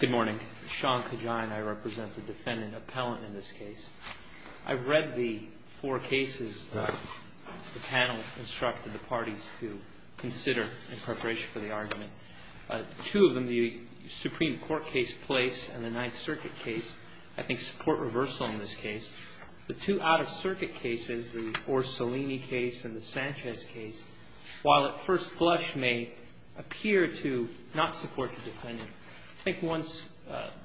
Good morning. Sean Kajan. I represent the defendant appellant in this case. I've read the four cases the panel instructed the parties to consider in preparation for the argument. Two of them, the Supreme Court case place and the Ninth Circuit case, I think support reversal in this case. The two out-of-circuit cases, the Orsolini case and the Sanchez case, while at first blush may appear to not support the defendant, I think once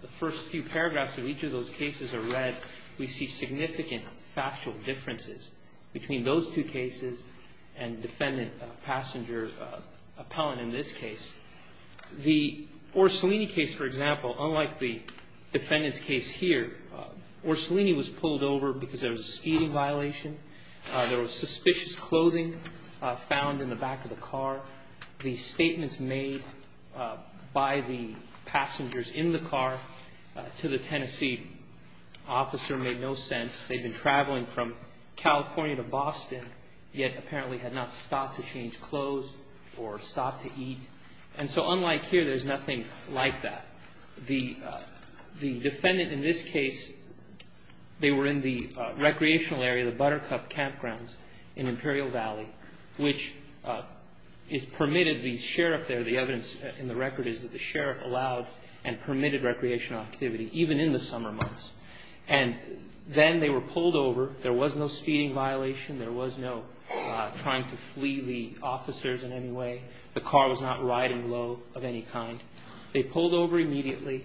the first few paragraphs of each of those cases are read, we see significant factual differences between those two cases and defendant passenger appellant in this case. The Orsolini case, for example, unlike the defendant's case here, Orsolini was pulled over because there was a speeding violation. There was suspicious clothing found in the back of the car. The statements made by the passengers in the car to the Tennessee officer made no sense. They'd been traveling from California to Boston, yet apparently had not stopped to change clothes or stopped to eat. And so unlike here, there's nothing like that. The defendant in this case, they were in the recreational area, the Buttercup campgrounds in Imperial Valley, which is permitted. The sheriff there, the evidence in the record is that the sheriff allowed and permitted recreational activity, even in the summer months. And then they were pulled over. There was no speeding violation. There was no trying to flee the officers in any way. The car was not riding low of any kind. They pulled over immediately.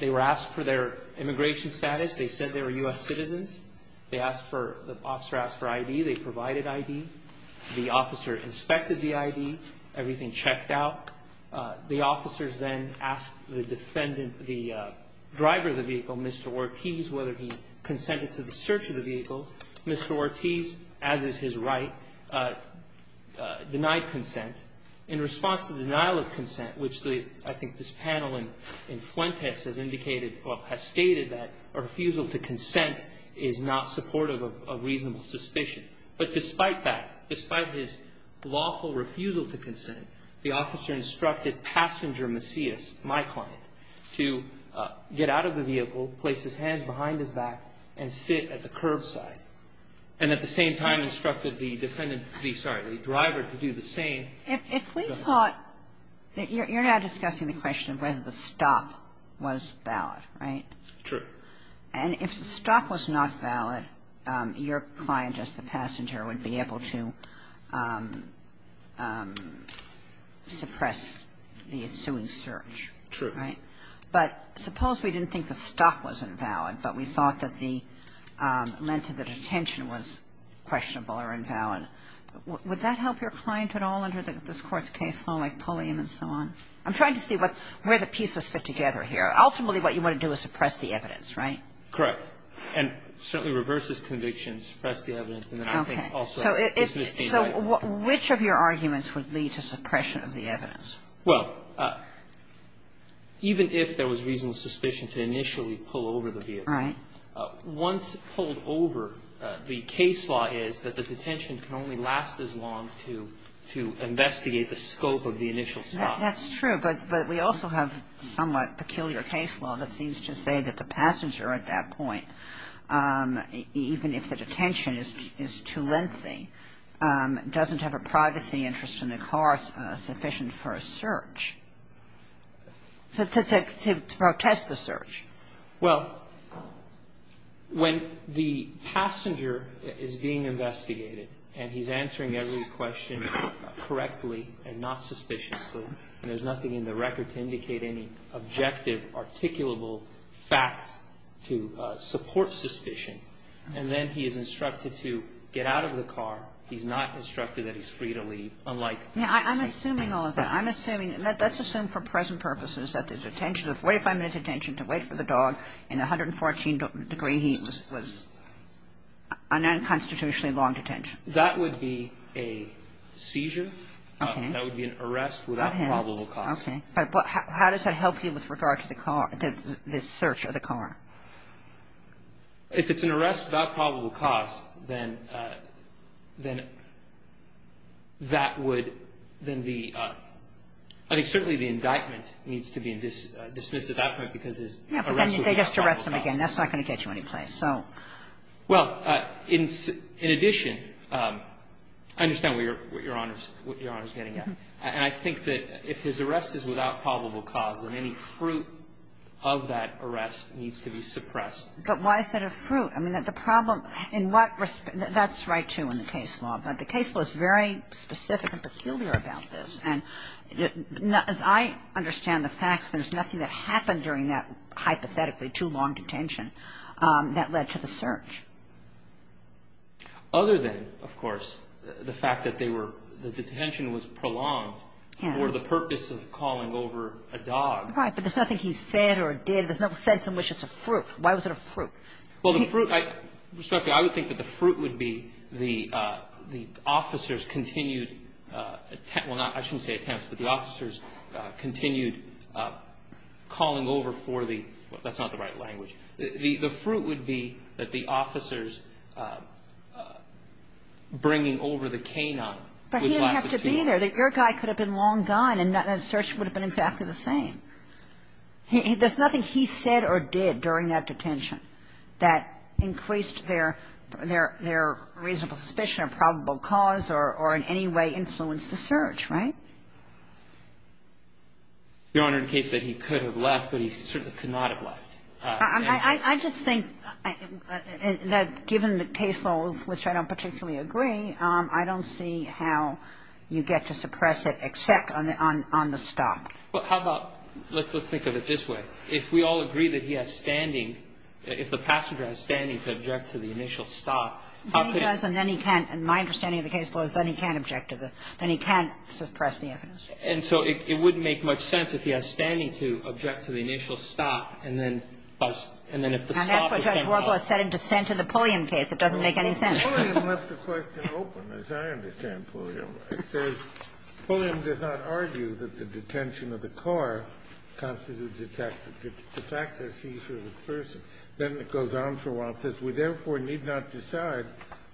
They were asked for their immigration status. They said they were U.S. citizens. They asked for the officer asked for I.D. They provided I.D. The officer inspected the I.D. Everything checked out. The officers then asked the defendant, the driver of the vehicle, Mr. Ortiz, whether he consented to the search of the vehicle. Mr. Ortiz, as is his right, denied consent. In response to the denial of consent, which I think this panel in Fuentes has indicated or has stated that a refusal to consent is not supportive of reasonable suspicion. But despite that, despite his lawful refusal to consent, the officer instructed passenger Macias, my client, to get out of the vehicle, place his hands behind his back, and sit at the curbside. And at the same time instructed the defendant, sorry, the driver to do the same. Kagan. If we thought that you're now discussing the question of whether the stop was valid, right? True. And if the stop was not valid, your client as the passenger would be able to suppress the ensuing search. True. Right? But suppose we didn't think the stop was invalid, but we thought that the length of the detention was questionable or invalid. Would that help your client at all under this Court's case law, like Pulliam and so on? I'm trying to see where the pieces fit together here. Ultimately, what you want to do is suppress the evidence, right? Correct. And certainly reverse his conviction, suppress the evidence, and then also dismiss the indictment. Okay. So which of your arguments would lead to suppression of the evidence? Well, even if there was reasonable suspicion to initially pull over the vehicle. Right. Once pulled over, the case law is that the detention can only last as long to investigate the scope of the initial stop. That's true. But we also have somewhat peculiar case law that seems to say that the passenger at that point, even if the detention is too lengthy, doesn't have a privacy interest in the car sufficient for a search. To protest the search. Well, when the passenger is being investigated and he's answering every question correctly and not suspiciously, and there's nothing in the record to indicate any objective, articulable facts to support suspicion, and then he is instructed to get out of the car, he's not instructed that he's free to leave, unlike the case. Yeah. I'm assuming all of that. I'm assuming. Let's assume for present purposes that the detention, the 45-minute detention to wait for the dog in 114 degree heat was an unconstitutionally long detention. That would be a seizure. Okay. That would be an arrest without probable cause. Okay. But how does that help you with regard to the search of the car? If it's an arrest without probable cause, then that would then be, I think certainly the indictment needs to be dismissed at that point because his arrest was without probable cause. Yeah, but then they just arrest him again. That's not going to get you any place. So. Well, in addition, I understand what Your Honor is getting at. And I think that if his arrest is without probable cause, then any fruit of that arrest needs to be suppressed. But why is that a fruit? I mean, the problem in what respect – that's right, too, in the case law. But the case law is very specific and peculiar about this. And as I understand the facts, there's nothing that happened during that hypothetically too long detention that led to the search. Other than, of course, the fact that they were – the detention was prolonged for the purpose of calling over a dog. But there's nothing he said or did. There's no sense in which it's a fruit. Why was it a fruit? Well, the fruit – respectfully, I would think that the fruit would be the officer's continued – well, not – I shouldn't say attempts, but the officer's continued calling over for the – that's not the right language. The fruit would be that the officer's bringing over the canine which lasted too long. But he didn't have to be there. Your guy could have been long gone and that search would have been exactly the same. There's nothing he said or did during that detention that increased their – their reasonable suspicion of probable cause or in any way influenced the search, right? Your Honor, the case said he could have left, but he certainly could not have left. I just think that given the case laws, which I don't particularly agree, I don't see how you get to suppress it except on the stop. Well, how about – let's think of it this way. If we all agree that he has standing – if the passenger has standing to object to the initial stop, how could it – Then he does and then he can't. And my understanding of the case law is then he can't object to the – then he can't suppress the evidence. And so it wouldn't make much sense if he has standing to object to the initial stop and then bust. And then if the stop is simple – And that's what Judge Wargler said in dissent in the Pulliam case. It doesn't make any sense. Pulliam left the question open, as I understand Pulliam. It says, Pulliam did not argue that the detention of the car constitutes the fact of seizure of the person. Then it goes on for a while and says, We therefore need not decide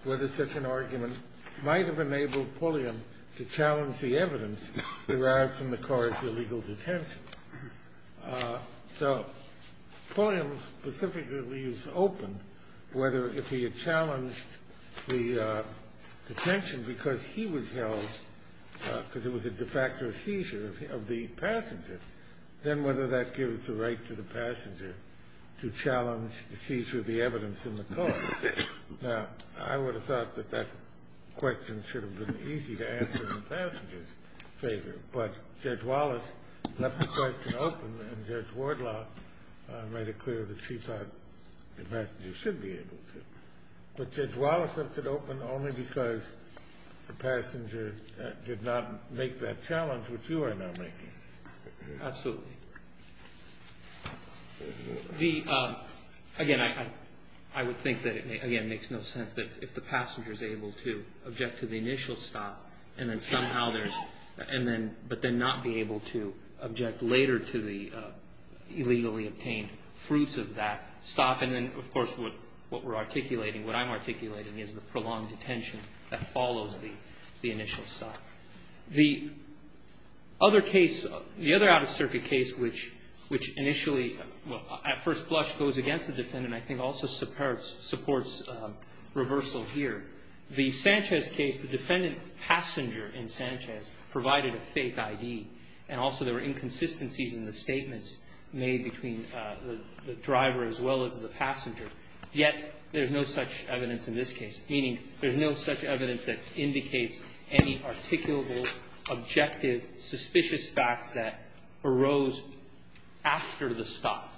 whether such an argument might have enabled Pulliam to challenge the evidence derived from the car's illegal detention. So Pulliam specifically leaves open whether if he had challenged the detention because he was held – because it was a de facto seizure of the passenger, then whether that gives the right to the passenger to challenge the seizure of the evidence in the car. Now, I would have thought that that question should have been easy to answer in the passenger's favor. But Judge Wallace left the question open and Judge Wardlaw made it clear that she thought the passenger should be able to. But Judge Wallace left it open only because the passenger did not make that challenge, which you are now making. Absolutely. Again, I would think that it makes no sense that if the passenger is able to object to the initial stop and then somehow there's – but then not be able to object later to the illegally obtained fruits of that stop. And then, of course, what we're articulating, what I'm articulating, is the prolonged detention that follows the initial stop. The other case, the other out-of-circuit case, which initially, at first blush, goes against the defendant, I think also supports reversal here. The Sanchez case, the defendant passenger in Sanchez provided a fake ID, and also there were inconsistencies in the statements made between the driver as well as the passenger, yet there's no such evidence in this case, meaning there's no such evidence that indicates any articulable, objective, suspicious facts that arose after the stop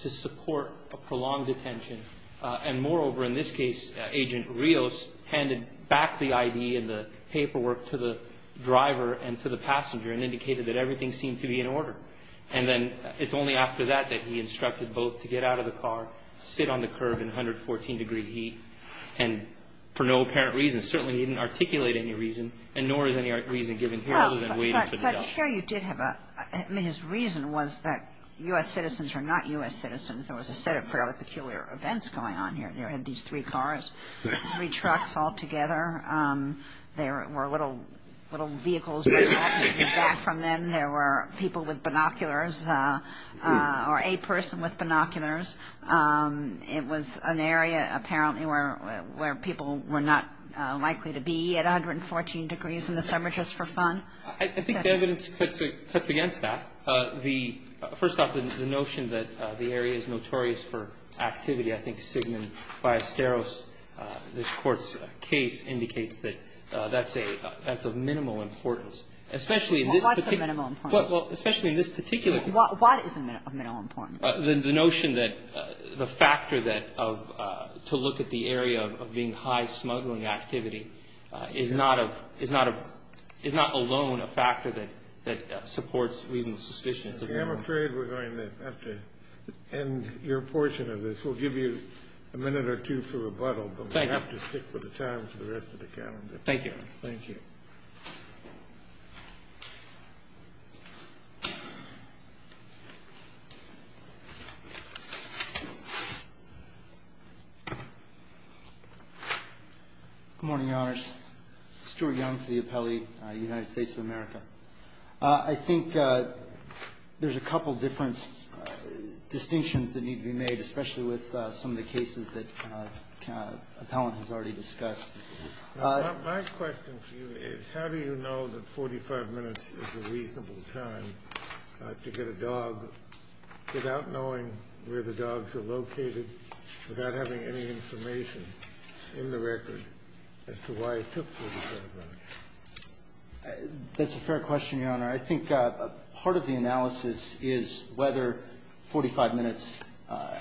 to support a prolonged detention. And moreover, in this case, Agent Rios handed back the ID and the paperwork to the driver and to the passenger and indicated that everything seemed to be in order. And then it's only after that that he instructed both to get out of the car, sit on the curb in 114-degree heat, and for no apparent reason, certainly he didn't articulate any reason, and nor is any reason given here other than waiting for the judge. But here you did have a – I mean, his reason was that U.S. citizens are not U.S. citizens. There was a set of fairly peculiar events going on here. You had these three cars, three trucks all together. There were little vehicles resulting from them. There were people with binoculars or a person with binoculars. It was an area, apparently, where people were not likely to be at 114 degrees in the summer just for fun. I think the evidence cuts against that. First off, the notion that the area is notorious for activity. I think Sigmund Biasteros, this Court's case, indicates that that's of minimal importance, especially in this particular case. Kagan. What's of minimal importance? Well, especially in this particular case. What is of minimal importance? The notion that the factor that of – to look at the area of being high smuggling activity is not of – is not alone a factor that supports reasonable suspicions of minimal importance. I'm afraid we're going to have to end your portion of this. We'll give you a minute or two for rebuttal. Thank you. But we have to stick with the time for the rest of the calendar. Thank you. Thank you. Stewart. Good morning, Your Honors. Stewart Young for the appellee, United States of America. I think there's a couple different distinctions that need to be made, especially with some of the cases that the appellant has already discussed. My question for you is how do you know that 45 minutes is a reasonable time to get a dog without knowing where the dogs are located, without having any information in the record as to why it took 45 minutes? That's a fair question, Your Honor. I think part of the analysis is whether 45 minutes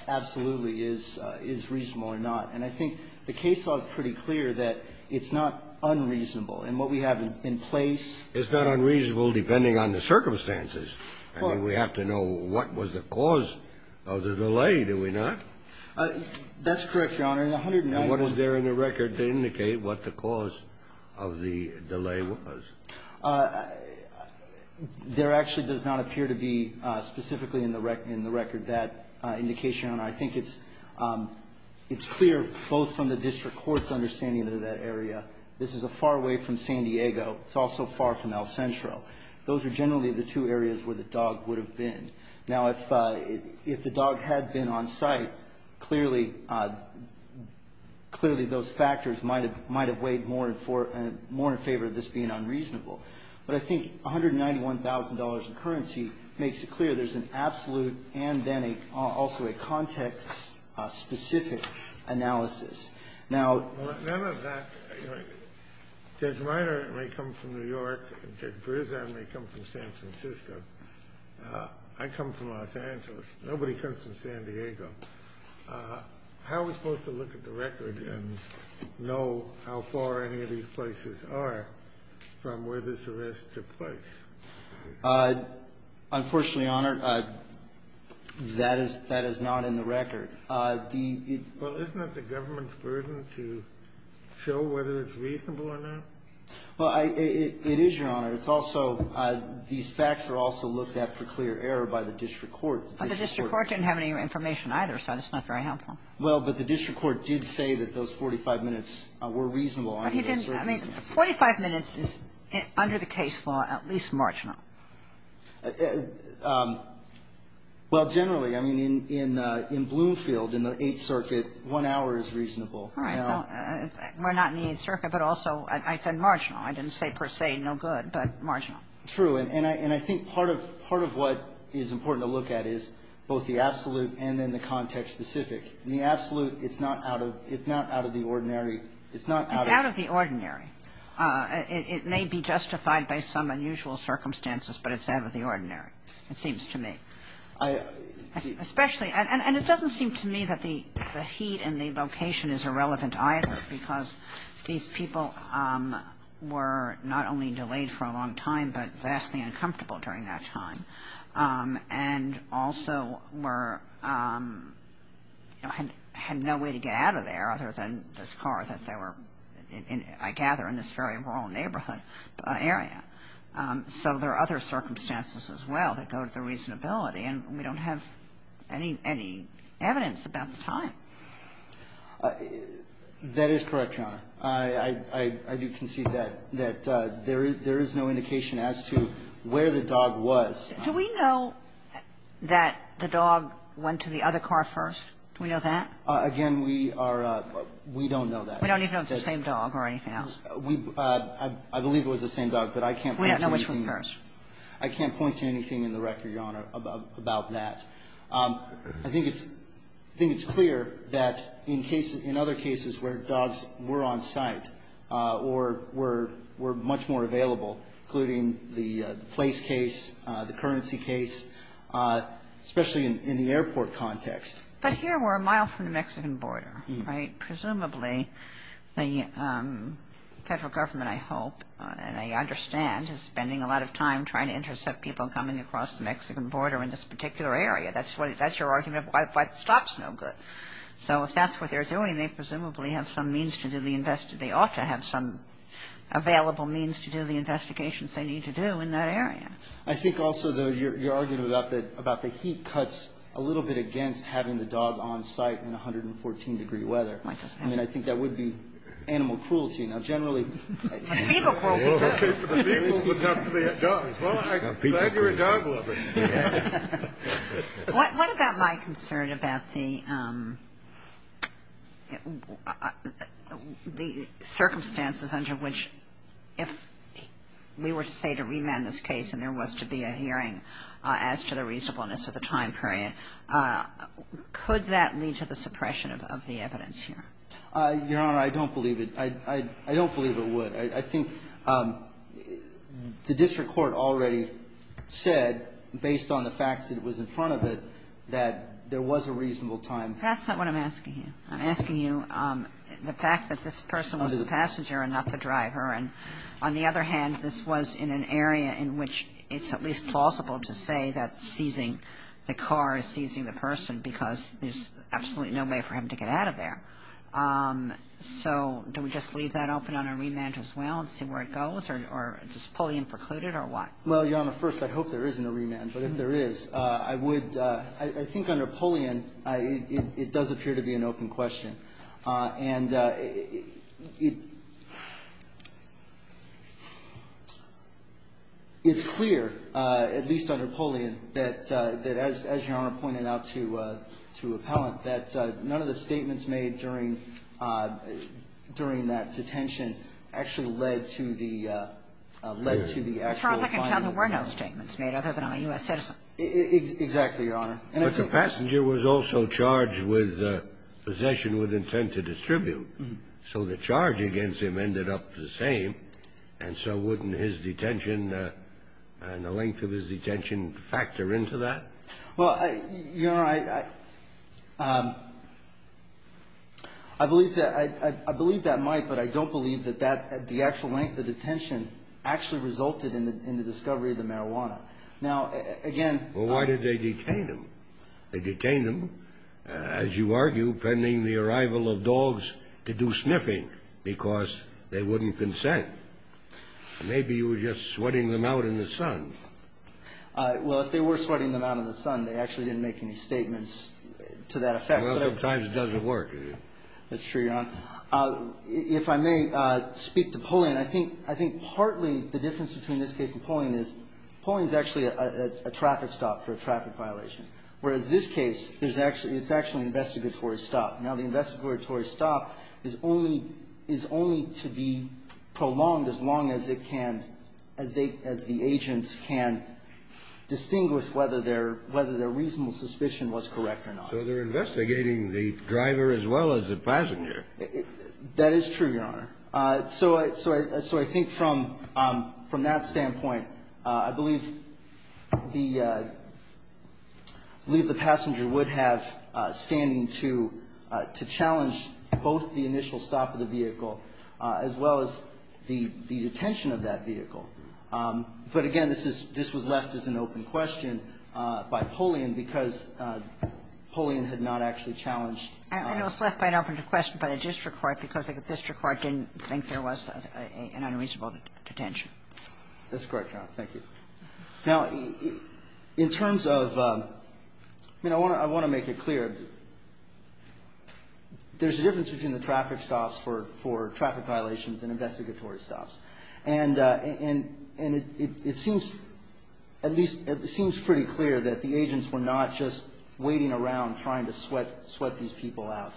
absolutely is reasonable or not. And I think the case law is pretty clear that it's not unreasonable. And what we have in place at this point is a reasonable time. It's not unreasonable depending on the circumstances. I mean, we have to know what was the cause of the delay, do we not? That's correct, Your Honor. In the 190 minutes. What is there in the record to indicate what the cause of the delay was? Your Honor. I think it's clear both from the district court's understanding of that area. This is far away from San Diego. It's also far from El Centro. Those are generally the two areas where the dog would have been. Now, if the dog had been on site, clearly those factors might have weighed more in favor of this being unreasonable. But I think $191,000 in currency makes it clear there's an absolute and then also a context-specific analysis. Now, none of that, you know, Judge Minor may come from New York, Judge Brizan may come from San Francisco. I come from Los Angeles. Nobody comes from San Diego. How are we supposed to look at the record and know how far any of these places are from where this arrest took place? Unfortunately, Your Honor, that is not in the record. The ---- Well, isn't it the government's burden to show whether it's reasonable or not? Well, it is, Your Honor. It's also these facts are also looked at for clear error by the district court. The district court didn't have any information either, so that's not very helpful. Well, but the district court did say that those 45 minutes were reasonable. Well, he didn't. I mean, 45 minutes is, under the case law, at least marginal. Well, generally, I mean, in Bloomfield, in the Eighth Circuit, one hour is reasonable. All right. Well, we're not in the Eighth Circuit, but also I said marginal. I didn't say per se no good, but marginal. True. And I think part of what is important to look at is both the absolute and then the context-specific. The absolute, it's not out of the ordinary. It's not out of the ordinary. It's out of the ordinary. It may be justified by some unusual circumstances, but it's out of the ordinary, it seems to me. Especially, and it doesn't seem to me that the heat and the location is irrelevant either, because these people were not only delayed for a long time, but vastly uncomfortable during that time, and also were ---- had no way to get out of there other than this car that they were in, I gather, in this very rural neighborhood area. So there are other circumstances as well that go to the reasonability, and we don't have any evidence about the time. That is correct, Your Honor. I do concede that there is no indication as to where the dog was. Do we know that the dog went to the other car first? Do we know that? Again, we are ---- we don't know that. We don't even know if it's the same dog or anything else. We ---- I believe it was the same dog, but I can't point to anything. We don't know which was first. I can't point to anything in the record, Your Honor, about that. I think it's clear that in case ---- in other cases where dogs were on site or were much more available, including the place case, the currency case, especially in the airport context. But here we're a mile from the Mexican border, right? Presumably the Federal Government, I hope, and I understand, is spending a lot of time trying to intercept people coming across the Mexican border in this particular area. That's what ---- that's your argument? What stops no good? So if that's what they're doing, they presumably have some means to do the invest ---- they ought to have some available means to do the investigations they need to do in that area. I think also, though, you're arguing about the heat cuts a little bit against having the dog on site in 114-degree weather. I mean, I think that would be animal cruelty. Now, generally ---- Feeble cruelty. Okay, for the feeble, but not for the dogs. Well, I'm glad you're a dog lover. What about my concern about the circumstances under which if we were to say to remand this case and there was to be a hearing as to the reasonableness of the time period, could that lead to the suppression of the evidence here? Your Honor, I don't believe it. I don't believe it would. I think the district court already said, based on the facts that was in front of it, that there was a reasonable time. That's not what I'm asking you. I'm asking you the fact that this person was the passenger and not the driver. And on the other hand, this was in an area in which it's at least plausible to say that seizing the car is seizing the person because there's absolutely no way for him to get out of there. So do we just leave that open on a remand as well and see where it goes? Or is a pull-in precluded or what? Well, Your Honor, first, I hope there isn't a remand. But if there is, I would ---- I think under pull-in, it does appear to be an open question. And it's clear, at least under pull-in, that as Your Honor pointed out to appellant, that none of the statements made during that detention actually led to the actual finding of the person. Your Honor, as far as I can tell, there were no statements made other than on a U.S. citizen. Exactly, Your Honor. But the passenger was also charged with possession with intent to distribute. So the charge against him ended up the same. And so wouldn't his detention and the length of his detention factor into that? Well, Your Honor, I believe that might, but I don't believe that the actual length of detention actually resulted in the discovery of the marijuana. Now, again ---- Well, why did they detain him? They detained him, as you argue, pending the arrival of dogs to do sniffing because they wouldn't consent. Maybe you were just sweating them out in the sun. Well, if they were sweating them out in the sun, they actually didn't make any statements to that effect. Well, sometimes it doesn't work, does it? That's true, Your Honor. If I may speak to pull-in, I think partly the difference between this case and pull-in is pull-in is actually a traffic stop for a traffic violation, whereas this case, it's actually an investigatory stop. Now, the investigatory stop is only to be prolonged as long as it can, as the agents can distinguish whether their reasonable suspicion was correct or not. So they're investigating the driver as well as the passenger. That is true, Your Honor. So I think from that standpoint, I believe the passenger would have standing to challenge both the initial stop of the vehicle as well as the detention of that vehicle. But again, this was left as an open question by pull-in because pull-in had not actually challenged ---- I know it's left by an open question by the district court because the district court didn't think there was an unreasonable detention. That's correct, Your Honor. Thank you. Now, in terms of ---- I mean, I want to make it clear. There's a difference between the traffic stops for traffic violations and investigatory stops. And it seems at least ---- it seems pretty clear that the agents were not just waiting around trying to sweat these people out.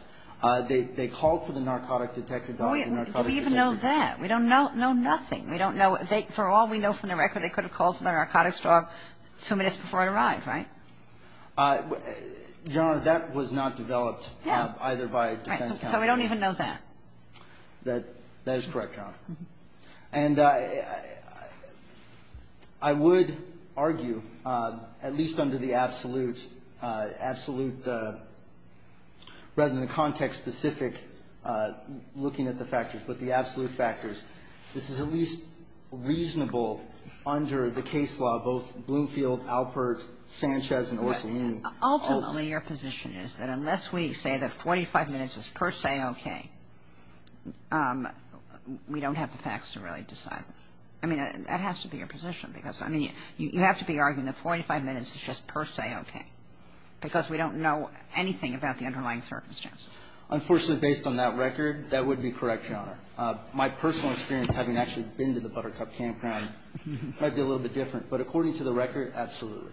They called for the narcotic detector dog. Do we even know that? We don't know nothing. We don't know. For all we know from the record, they could have called for the narcotics dog two minutes before it arrived, right? Your Honor, that was not developed either by defense counsel. Right. So we don't even know that. That is correct, Your Honor. And I would argue, at least under the absolute, absolute ---- rather than the context specific looking at the factors, but the absolute factors, this is at least reasonable under the case law, both Bloomfield, Alpert, Sanchez and Orsolini. Ultimately, your position is that unless we say that 45 minutes is per se okay, we don't have the facts to really decide this. I mean, that has to be your position because, I mean, you have to be arguing that 45 minutes is just per se okay because we don't know anything about the underlying circumstance. Unfortunately, based on that record, that would be correct, Your Honor. My personal experience having actually been to the Buttercup campground might be a little bit different. But according to the record, absolutely.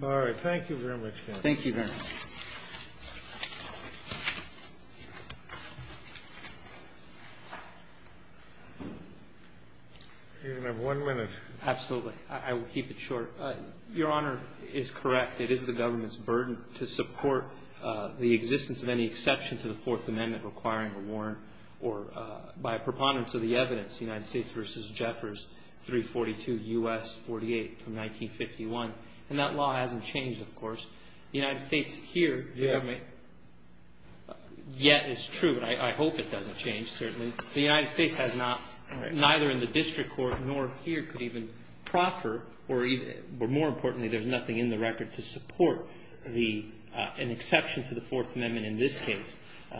All right. Thank you very much, counsel. Thank you very much. You have one minute. Absolutely. I will keep it short. Your Honor is correct. It is the government's burden to support the existence of any exception to the Fourth Amendment requiring a warrant or by preponderance of the evidence, United States v. Jeffers, 342 U.S. 48 from 1951. And that law hasn't changed, of course. The United States here yet is true, but I hope it doesn't change, certainly. The United States has not, neither in the district court nor here could even proffer or more importantly, there's nothing in the record to support an exception to the Fourth Amendment in this case.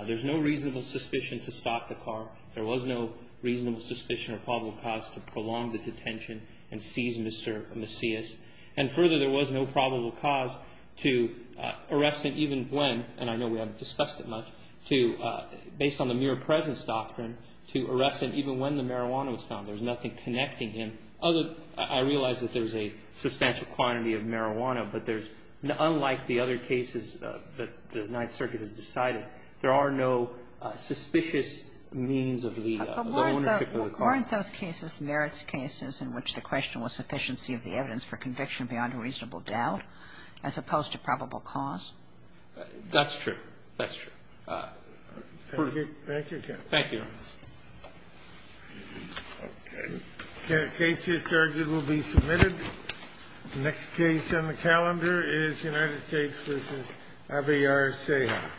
There's no reasonable suspicion to stop the car. There was no reasonable suspicion or probable cause to prolong the detention and seize Mr. Macias. And further, there was no probable cause to arrest him even when, and I know we haven't discussed it much, to, based on the mere presence doctrine, to arrest him even when the marijuana was found. There's nothing connecting him. Other, I realize that there's a substantial quantity of marijuana, but there's, unlike the other cases that the Ninth Circuit has decided, there are no suspicious means of the ownership of the car. But weren't those cases merits cases in which the question was sufficiency of the evidence for conviction beyond a reasonable doubt as opposed to probable cause? That's true. That's true. Thank you. Thank you. Thank you. Okay. The case to be started will be submitted. The next case on the calendar is United States v. Aviar-Ceja.